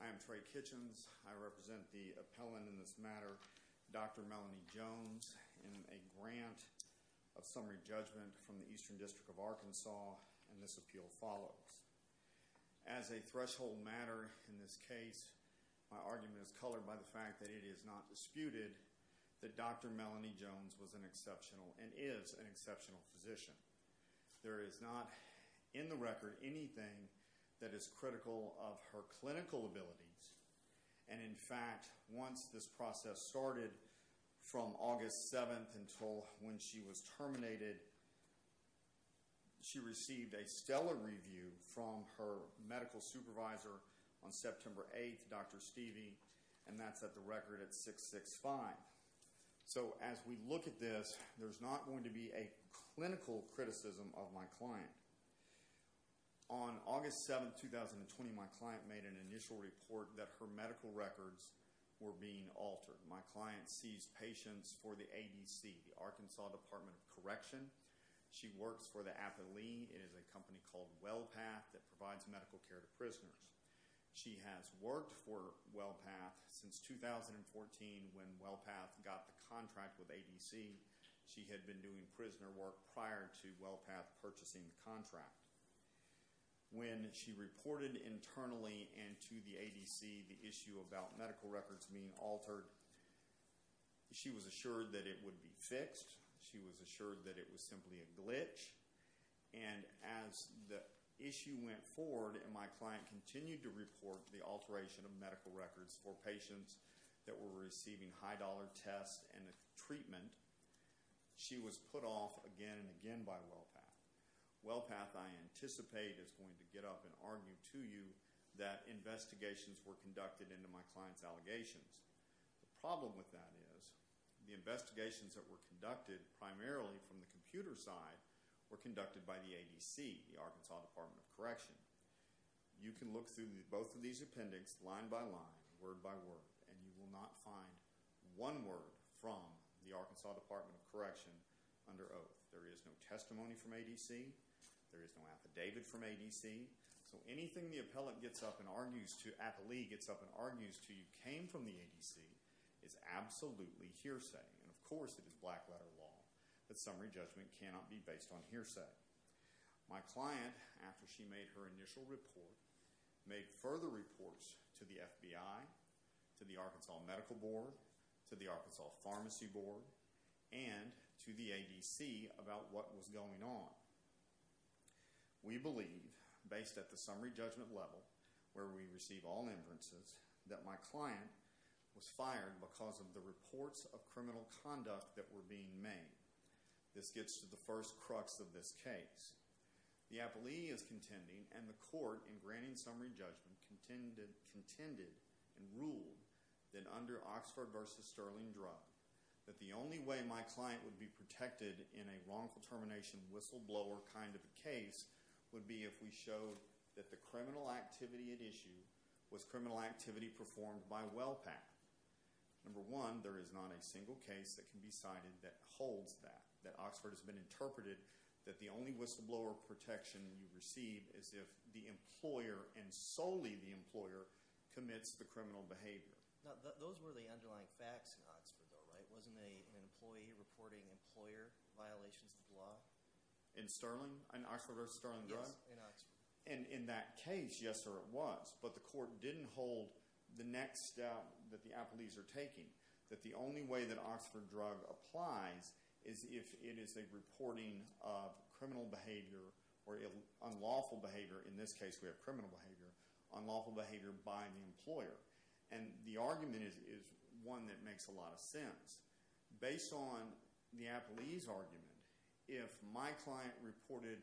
I am Trey Kitchens. I represent the appellant in this matter, Dr. Melanie Jones, in a grant of summary judgment from the Eastern District of Arkansas, and this appeal follows. As a threshold matter in this case, my argument is colored by the fact that it is not disputed that Dr. Melanie Jones was an exceptional and is an exceptional physician. There is not in the record anything that is critical of her clinical abilities, and in fact, once this process started from August 7th until when she was terminated, she received a stellar review from her medical supervisor on September 8th, Dr. Stevie, and that's at the record at 665. So as we look at this, there's not going to be a clinical criticism of my client. On August 7th, 2020, my client made an initial report that her medical records were being altered. My client sees patients for the ADC, the Arkansas Department of Correction. She works for the appellee. It is a company called WellPath that provides medical care to prisoners. She has worked for WellPath since 2014 when WellPath got the contract with ADC. She had been doing prisoner work prior to WellPath purchasing the contract. When she reported internally and to the ADC the issue about medical records being altered, she was assured that it would be fixed. She was assured that it was simply a glitch, and as the issue went forward and my client continued to report the alteration of medical records for patients that were receiving high-dollar tests and treatment, she was put off again and again by WellPath. WellPath, I anticipate, is going to get up and argue to you that investigations were conducted into my client's allegations. The problem with that is the investigations that were conducted primarily from the computer side were conducted by the ADC, the Arkansas Department of Correction. You can look through both of these appendix line by line, word by word, and you will not find one word from the Arkansas Department of Correction under oath. There is no testimony from ADC. There is no affidavit from ADC. So anything the appellate gets up and argues to, the appellee gets up and argues to you came from the ADC, is absolutely hearsay, and of course it is black-letter law that summary judgment cannot be based on hearsay. My client, after she made her initial report, made further reports to the FBI, to the Arkansas Medical Board, to the Arkansas Pharmacy Board, and to the ADC about what was going on. We believe, based at the summary judgment level, where we receive all inferences, that my client was fired because of the reports of criminal conduct that were being made. This gets to the first crux of this case. The appellee is contending, and the court, in granting summary judgment, contended and ruled that under Oxford v. Sterling drug, that the only way my client would be protected in a wrongful termination whistleblower kind of a case would be if we showed that the criminal activity at issue was criminal activity performed by WellPath. Number one, there is not a single case that can be cited that holds that, that Oxford has been interpreted that the only whistleblower protection you receive is if the employer, and solely the employer, commits the criminal behavior. Those were the underlying facts in Oxford, though, right? Wasn't an employee reporting employer violations of the law? In Sterling, in Oxford v. Sterling drug? Yes, in Oxford. In that case, yes sir, it was, but the court didn't hold the next step that the appellees are taking, that the only way that Oxford drug applies is if it is a reporting of criminal behavior or unlawful behavior, in this case we have criminal behavior, unlawful behavior by the employer. The argument is one that makes a lot of sense. Based on the appellee's argument, if my client reported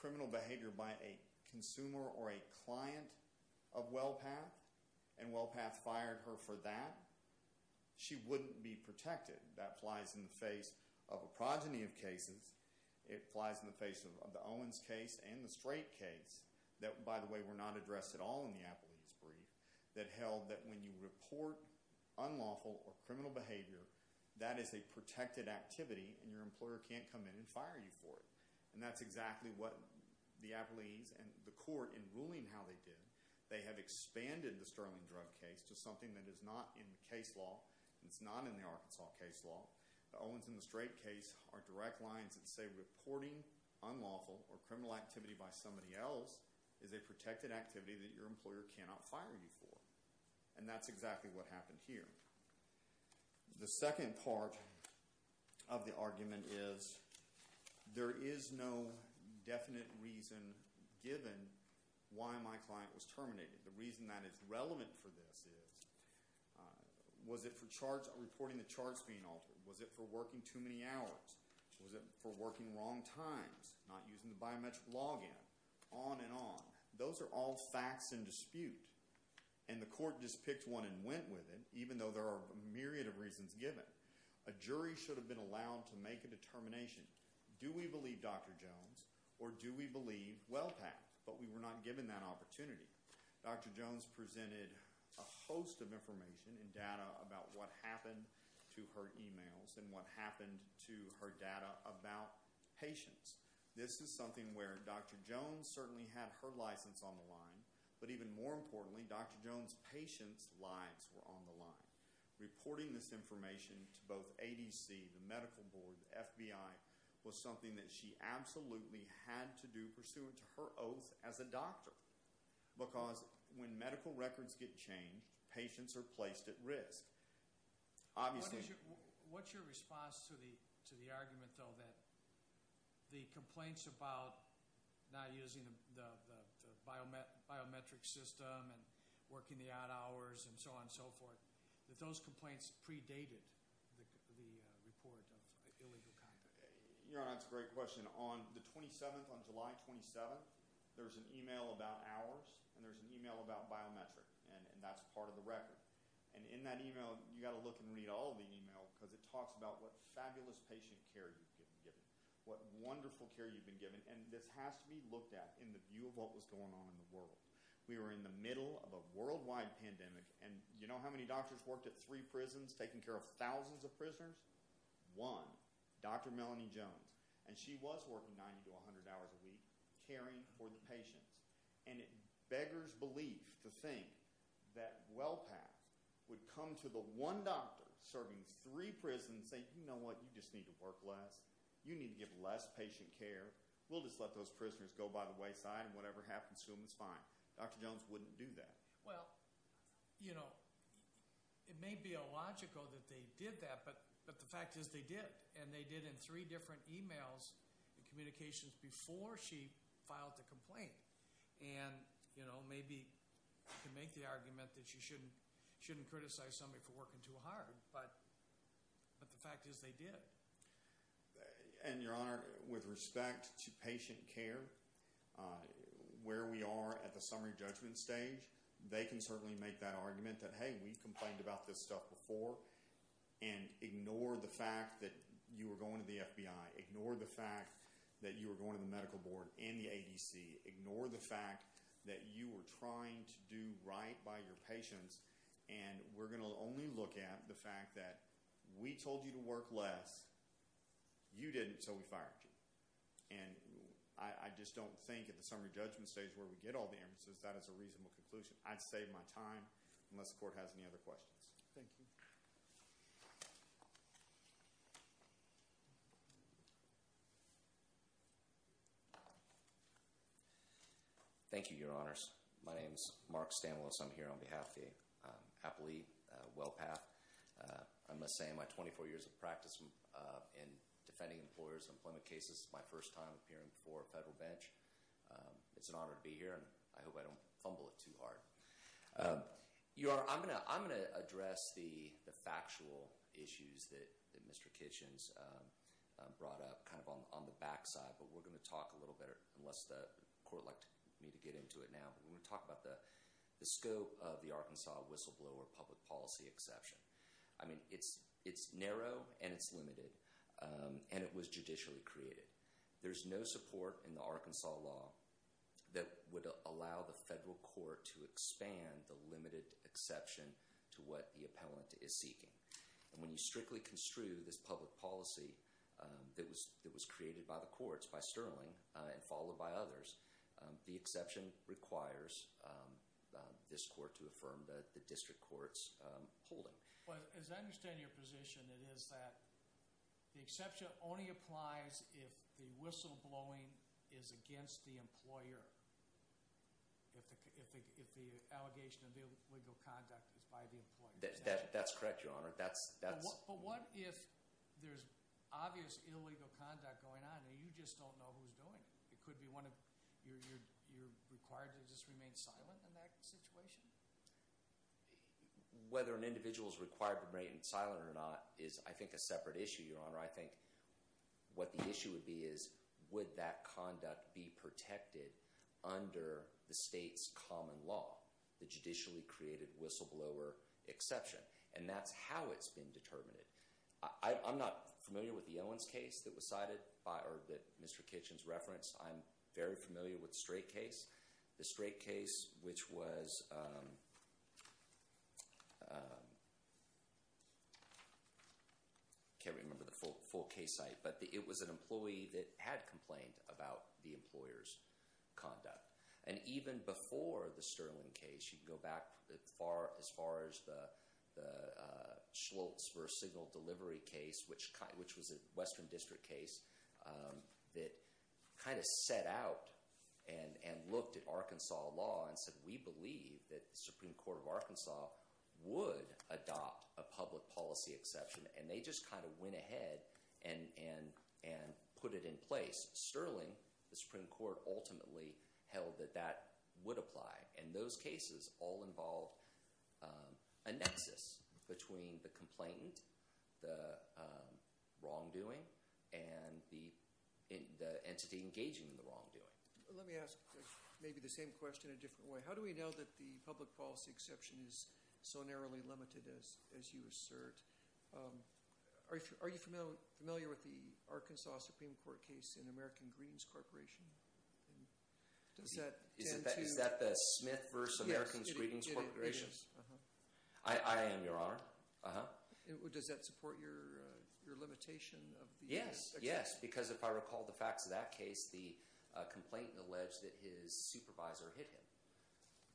criminal behavior by a consumer or a client of WellPath, and WellPath fired her for that, she wouldn't be protected. That applies in the face of a progeny of cases, it applies in the face of the Owens case and the Strait case, that by the way were not addressed at all in the appellee's brief, that held that when you report unlawful or criminal behavior, that is a protected activity and your employer can't come in and fire you for it. And that's exactly what the appellees and the court, in ruling how they did, they have expanded the Sterling drug case to something that is not in the case law, and it's not in the Arkansas case law. The Owens and the Strait case are direct lines that say reporting unlawful or criminal activity by somebody else is a protected activity that your employer cannot fire you for. And that's exactly what happened here. The second part of the argument is there is no definite reason given why my client was terminated. The reason that is relevant for this is, was it for reporting the charge being altered? Was it for working too many hours? Was it for working wrong times? Not using the biometric log in? On and on. Those are all facts in dispute. And the court just picked one and went with it, even though there are a myriad of reasons given. A jury should have been allowed to make a determination. Do we believe Dr. Jones? Or do we believe Wellpact? But we were not given that opportunity. Dr. Jones presented a host of information and data about what happened to her emails and what happened to her data about patients. This is something where Dr. Jones certainly had her license on the line, but even more importantly, Dr. Jones' patients' lives were on the line. Reporting this information to both ADC, the medical board, the FBI, was something that she absolutely had to do pursuant to her oath as a doctor. Because when medical records get changed, patients are placed at risk. Obviously... What's your response to the argument, though, that the complaints about not using the biometric system and working the odd hours and so on and so forth, that those complaints predated the report of illegal conduct? Your Honor, that's a great question. On the 27th, on July 27th, there's an email about hours, and there's an email about biometric, and that's part of the record. And in that email, you've got to look and read all of the email, because it talks about what fabulous patient care you've been given, what wonderful care you've been given. And this has to be We were in the middle of a worldwide pandemic, and you know how many doctors worked at three prisons, taking care of thousands of prisoners? One, Dr. Melanie Jones. And she was working 90 to 100 hours a week, caring for the patients. And it beggars belief to think that WellPath would come to the one doctor serving three prisons and say, you know what, you just need to work less. You need to give less patient care. We'll just let those prisoners go by the wayside, and whatever happens to them is fine. Dr. Jones wouldn't do that. Well, you know, it may be illogical that they did that, but the fact is they did. And they did in three different emails and communications before she filed the complaint. And you know, maybe you can make the argument that you shouldn't criticize somebody for working too hard, but the fact is they did. And your honor, with respect to patient care, where we are at the summary judgment stage, they can certainly make that argument that hey, we've complained about this stuff before and ignore the fact that you were going to the FBI, ignore the fact that you were going to the medical board and the ADC, ignore the fact that you were trying to do right by your class, you didn't, so we fired you. And I just don't think at the summary judgment stage where we get all the emphases that is a reasonable conclusion. I'd save my time unless the court has any other questions. Thank you. Thank you, your honors. My name is Mark Stanwell, so I'm here on behalf of the Apple Company, WellPath. I must say in my 24 years of practice in defending employers and employment cases, this is my first time appearing before a federal bench. It's an honor to be here and I hope I don't fumble it too hard. Your honor, I'm going to address the factual issues that Mr. Kitchens brought up kind of on the back side, but we're going to talk a little bit, unless the court would like me to get into it now, but we're going to talk about the scope of the Arkansas whistleblower public policy exception. I mean, it's narrow and it's limited and it was judicially created. There's no support in the Arkansas law that would allow the federal court to expand the limited exception to what the appellant is seeking. When you strictly construe this public policy that was created by the courts, by Sterling and followed by others, the exception requires this court to affirm the district court's holding. As I understand your position, it is that the exception only applies if the whistleblowing is against the employer, if the allegation of illegal conduct is by the employer. That's correct, your honor. But what if there's obvious illegal conduct going on and you just don't know who's doing it? You're required to just remain silent in that situation? Whether an individual is required to remain silent or not is, I think, a separate issue, your honor. I think what the issue would be is would that conduct be protected under the I'm not familiar with the Owens case that was cited by, or that Mr. Kitchens referenced. I'm very familiar with the Strait case. The Strait case, which was, I can't remember the full case site, but it was an employee that had complained about the employer's conduct. And even before the Sterling case, you can go back as far as the Schultz versus Signal Delivery case, which was a Western District case that kind of set out and looked at Arkansas law and said, we believe that the Supreme Court of Arkansas would adopt a public policy exception. And they just kind of went ahead and put it in place. Sterling, the Supreme Court, ultimately held that that would apply. And those cases all involved a nexus between the complainant, the wrongdoing, and the entity engaging in the wrongdoing. Let me ask maybe the same question in a different way. How do we know that the public policy exception is so narrowly limited as you assert? Are you familiar with the Arkansas Supreme Court case in American Greetings Corporation? Does that tend to... Is that the Smith versus American's Greetings Corporation? Yes, it is. I am, Your Honor. Does that support your limitation of the... Yes, yes. Because if I recall the facts of that case, the complainant alleged that his supervisor hit him.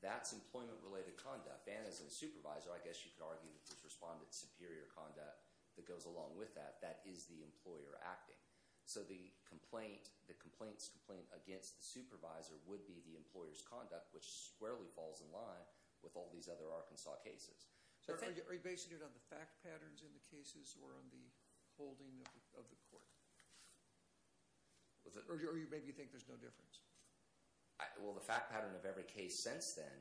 That's employment-related conduct. And as a supervisor, I guess you could argue that this conduct that goes along with that, that is the employer acting. So the complainant's complaint against the supervisor would be the employer's conduct, which squarely falls in line with all these other Arkansas cases. Are you basing it on the fact patterns in the cases or on the holding of the court? Or maybe you think there's no difference? Well, the fact pattern of every case since then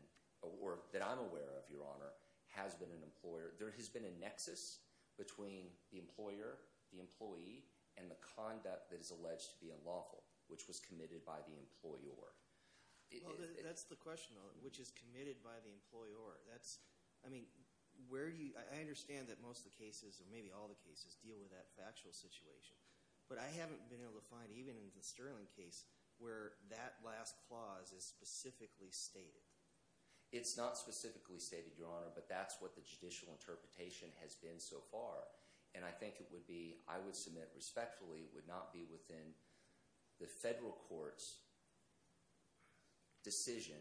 that I'm aware of, Your Honor, has been an employer. There has been a nexus between the employer, the employee, and the conduct that is alleged to be unlawful, which was committed by the employer. That's the question, though, which is committed by the employer. That's, I mean, where do you... I understand that most of the cases, or maybe all the cases, deal with that factual situation. But I haven't been able to find, even in the Sterling case, where that last clause is specifically stated. It's not specifically stated, Your Honor, but that's what the judicial interpretation has been so far. And I think it would be, I would submit respectfully, would not be within the federal court's decision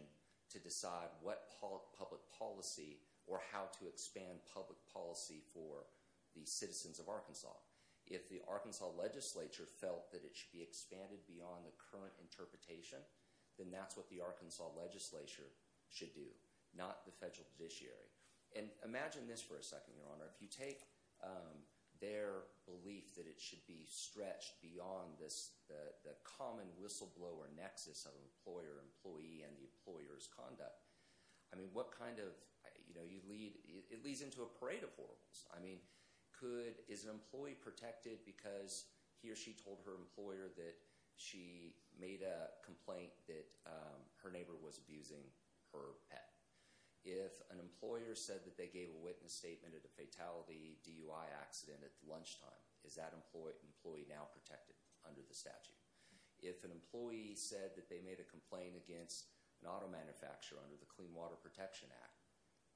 to decide what public policy or how to expand public policy for the citizens of Arkansas. If the Arkansas legislature felt that it should be expanded beyond the current interpretation, then that's what the Arkansas legislature should do, not the federal judiciary. And imagine this for a second, Your Honor. If you take their belief that it should be stretched beyond the common whistleblower nexus of employer-employee and the employer's conduct, I mean, what kind of, you know, it leads into a parade of horribles. I mean, could, is an employee protected because he or she told her employer that she made a complaint that her neighbor was abusing her pet? If an employer said that they gave a witness statement at a fatality DUI accident at lunchtime, is that employee now protected under the statute? If an employee said that they made a complaint against an auto manufacturer under the Clean Water Protection Act,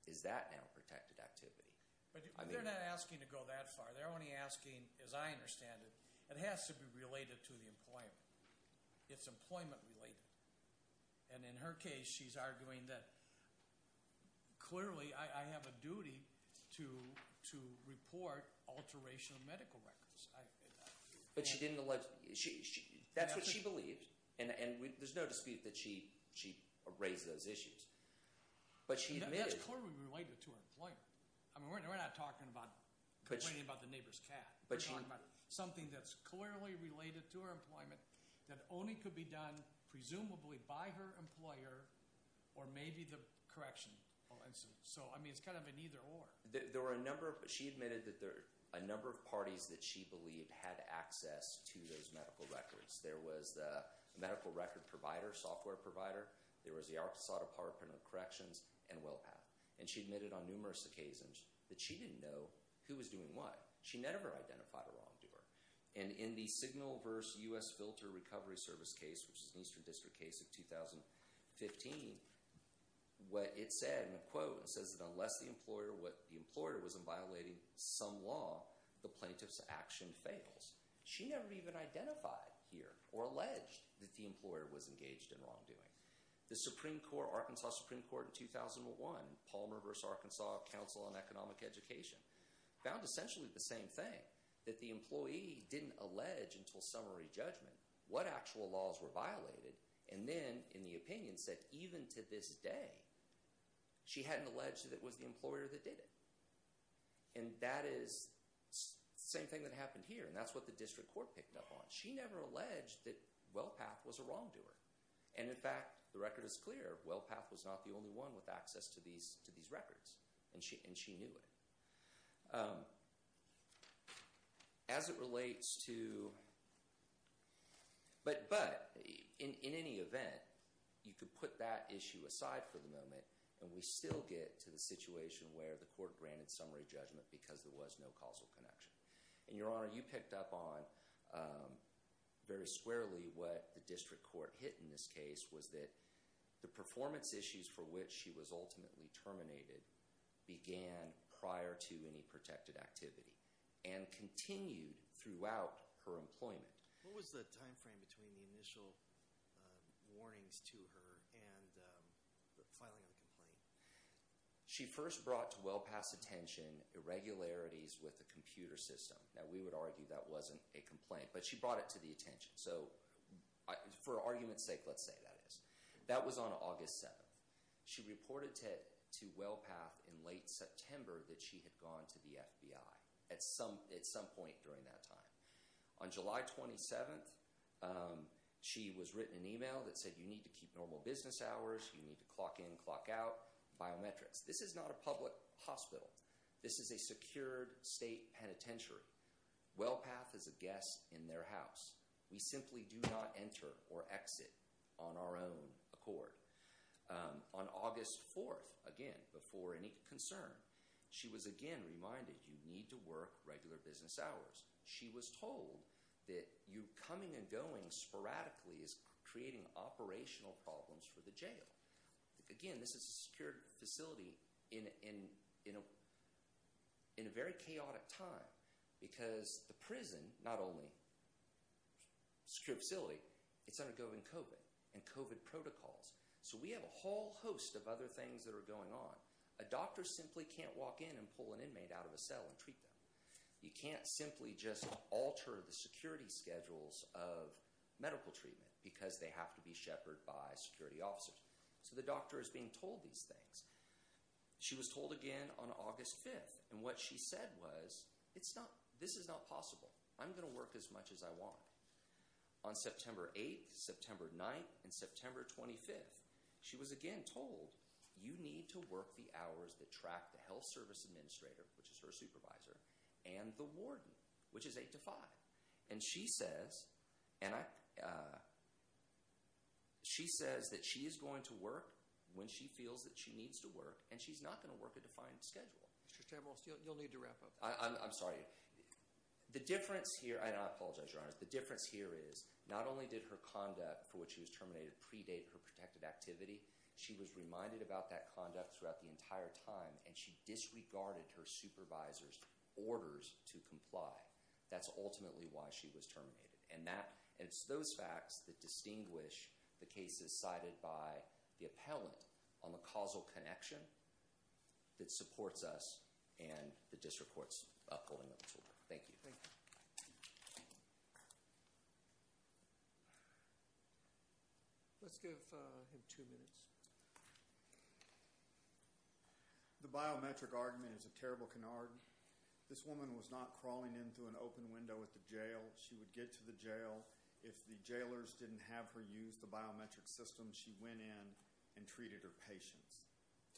is that now protected activity? But they're not asking to go that far. They're only asking, as I understand it, it has to be related to the employer. It's employment related. And in her case, she's arguing that clearly I have a duty to report alteration of medical records. But she didn't allege, that's what she believed, and there's no dispute that she raised those issues. That's clearly related to her employer. I mean, we're not talking about complaining about the neighbor's cat. We're talking about something that's clearly related to her employment that only could be done presumably by her employer or maybe the correction. So, I mean, it's kind of an either-or. There were a number of, she admitted that a number of parties that she believed had access to those medical records. There was the medical record provider, software provider. There was the Arkansas Department of Corrections and WellPath. And she admitted on numerous occasions that she didn't know who was doing what. She never identified a wrongdoer. And in the Signal vs. U.S. Filter Recovery Service case, which is an Eastern District case of 2015, what it said in a quote, it says that unless the employer was violating some law, the plaintiff's action fails. She never even identified here or alleged that the employer was engaged in wrongdoing. The Supreme Court, Arkansas Supreme Court in 2001, Palmer vs. Arkansas Council on Economic Education, found essentially the same thing, that the employee didn't allege until summary judgment what actual laws were violated. And then, in the opinion, said even to this day, she hadn't alleged that it was the employer that did it. And that is the same thing that happened here. And that's what the district court picked up on. She never alleged that WellPath was a wrongdoer. And, in fact, the record is clear. WellPath was not the only one with access to these records. And she knew it. As it relates to – but, in any event, you could put that issue aside for the moment, and we still get to the situation where the court granted summary judgment because there was no causal connection. And, Your Honor, you picked up on very squarely what the district court hit in this case, was that the performance issues for which she was ultimately terminated began prior to any protected activity and continued throughout her employment. What was the timeframe between the initial warnings to her and the filing of the complaint? She first brought to WellPath's attention irregularities with the computer system. Now, we would argue that wasn't a complaint, but she brought it to the attention. So, for argument's sake, let's say that is. That was on August 7th. She reported to WellPath in late September that she had gone to the FBI at some point during that time. On July 27th, she was written an email that said, you need to keep normal business hours, you need to clock in, clock out, biometrics. This is not a public hospital. This is a secured state penitentiary. WellPath is a guest in their house. We simply do not enter or exit on our own accord. On August 4th, again, before any concern, she was again reminded you need to work regular business hours. She was told that you coming and going sporadically is creating operational problems for the jail. Again, this is a secured facility in a very chaotic time. Because the prison, not only a secured facility, it's undergoing COVID and COVID protocols. So, we have a whole host of other things that are going on. A doctor simply can't walk in and pull an inmate out of a cell and treat them. You can't simply just alter the security schedules of medical treatment because they have to be shepherded by security officers. So, the doctor is being told these things. She was told again on August 5th, and what she said was, this is not possible. I'm going to work as much as I want. On September 8th, September 9th, and September 25th, she was again told, you need to work the hours that track the health service administrator, which is her supervisor, and the warden, which is 8 to 5. And she says that she is going to work when she feels that she needs to work. And she's not going to work a defined schedule. Mr. Chambers, you'll need to wrap up. I'm sorry. The difference here, and I apologize, Your Honors, the difference here is not only did her conduct for which she was terminated predate her protected activity, she was reminded about that conduct throughout the entire time, and she disregarded her supervisor's orders to comply. That's ultimately why she was terminated. And it's those facts that distinguish the cases cited by the appellant on the causal connection that supports us and that disreports us going forward. Thank you. Thank you. Let's give him two minutes. The biometric argument is a terrible canard. This woman was not crawling in through an open window at the jail. She would get to the jail. If the jailers didn't have her use the biometric system, she went in and treated her patients,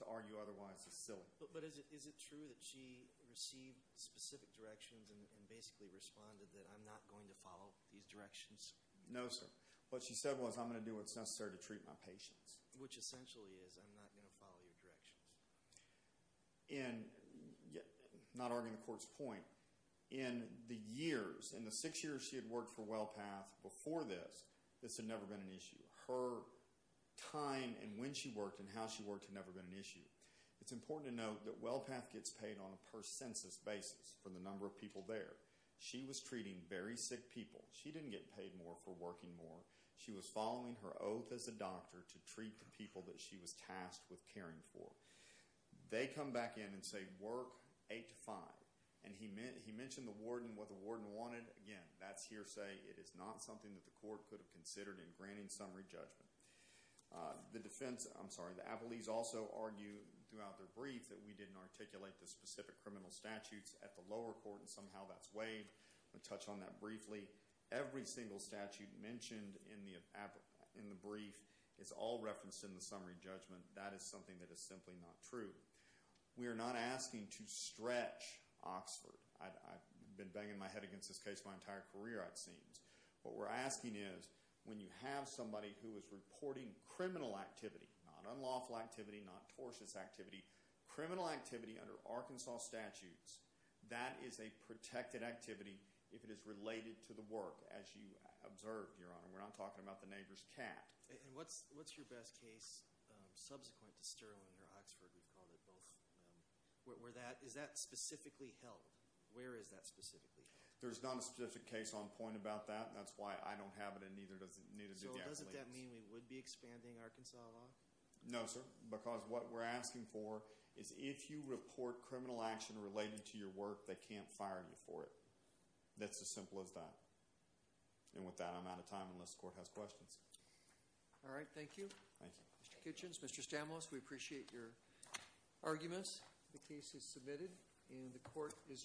to argue otherwise is silly. But is it true that she received specific directions and basically responded that I'm not going to follow these directions? No, sir. What she said was I'm going to do what's necessary to treat my patients. Which essentially is I'm not going to follow your directions. And not arguing the court's point, in the years, in the six years she had worked for WellPath before this, this had never been an issue. Her time and when she worked and how she worked had never been an issue. It's important to note that WellPath gets paid on a per census basis for the number of people there. She was treating very sick people. She didn't get paid more for working more. She was following her oath as a doctor to treat the people that she was tasked with caring for. They come back in and say work 8 to 5. And he mentioned the warden, what the warden wanted. Again, that's hearsay. It is not something that the court could have considered in granting summary judgment. The defense, I'm sorry, the appellees also argue throughout their brief that we didn't articulate the specific criminal statutes at the lower court. And somehow that's weighed. I'm going to touch on that briefly. Every single statute mentioned in the brief is all referenced in the summary judgment. That is something that is simply not true. We are not asking to stretch Oxford. I've been banging my head against this case my entire career, it seems. What we're asking is when you have somebody who is reporting criminal activity, not unlawful activity, not tortious activity, criminal activity under Arkansas statutes, that is a protected activity if it is related to the work, as you observed, Your Honor. We're not talking about the neighbor's cat. And what's your best case subsequent to Sterling or Oxford, we've called it both, where that, is that specifically held? Where is that specifically held? There's not a specific case on point about that. That's why I don't have it and neither does the appellee. So doesn't that mean we would be expanding Arkansas law? No, sir. Because what we're asking for is if you report criminal action related to your work, they can't fire you for it. That's as simple as that. And with that, I'm out of time unless the court has questions. All right. Thank you. Thank you. Mr. Kitchens, Mr. Stamos, we appreciate your arguments. The case is submitted and the court is adjourned.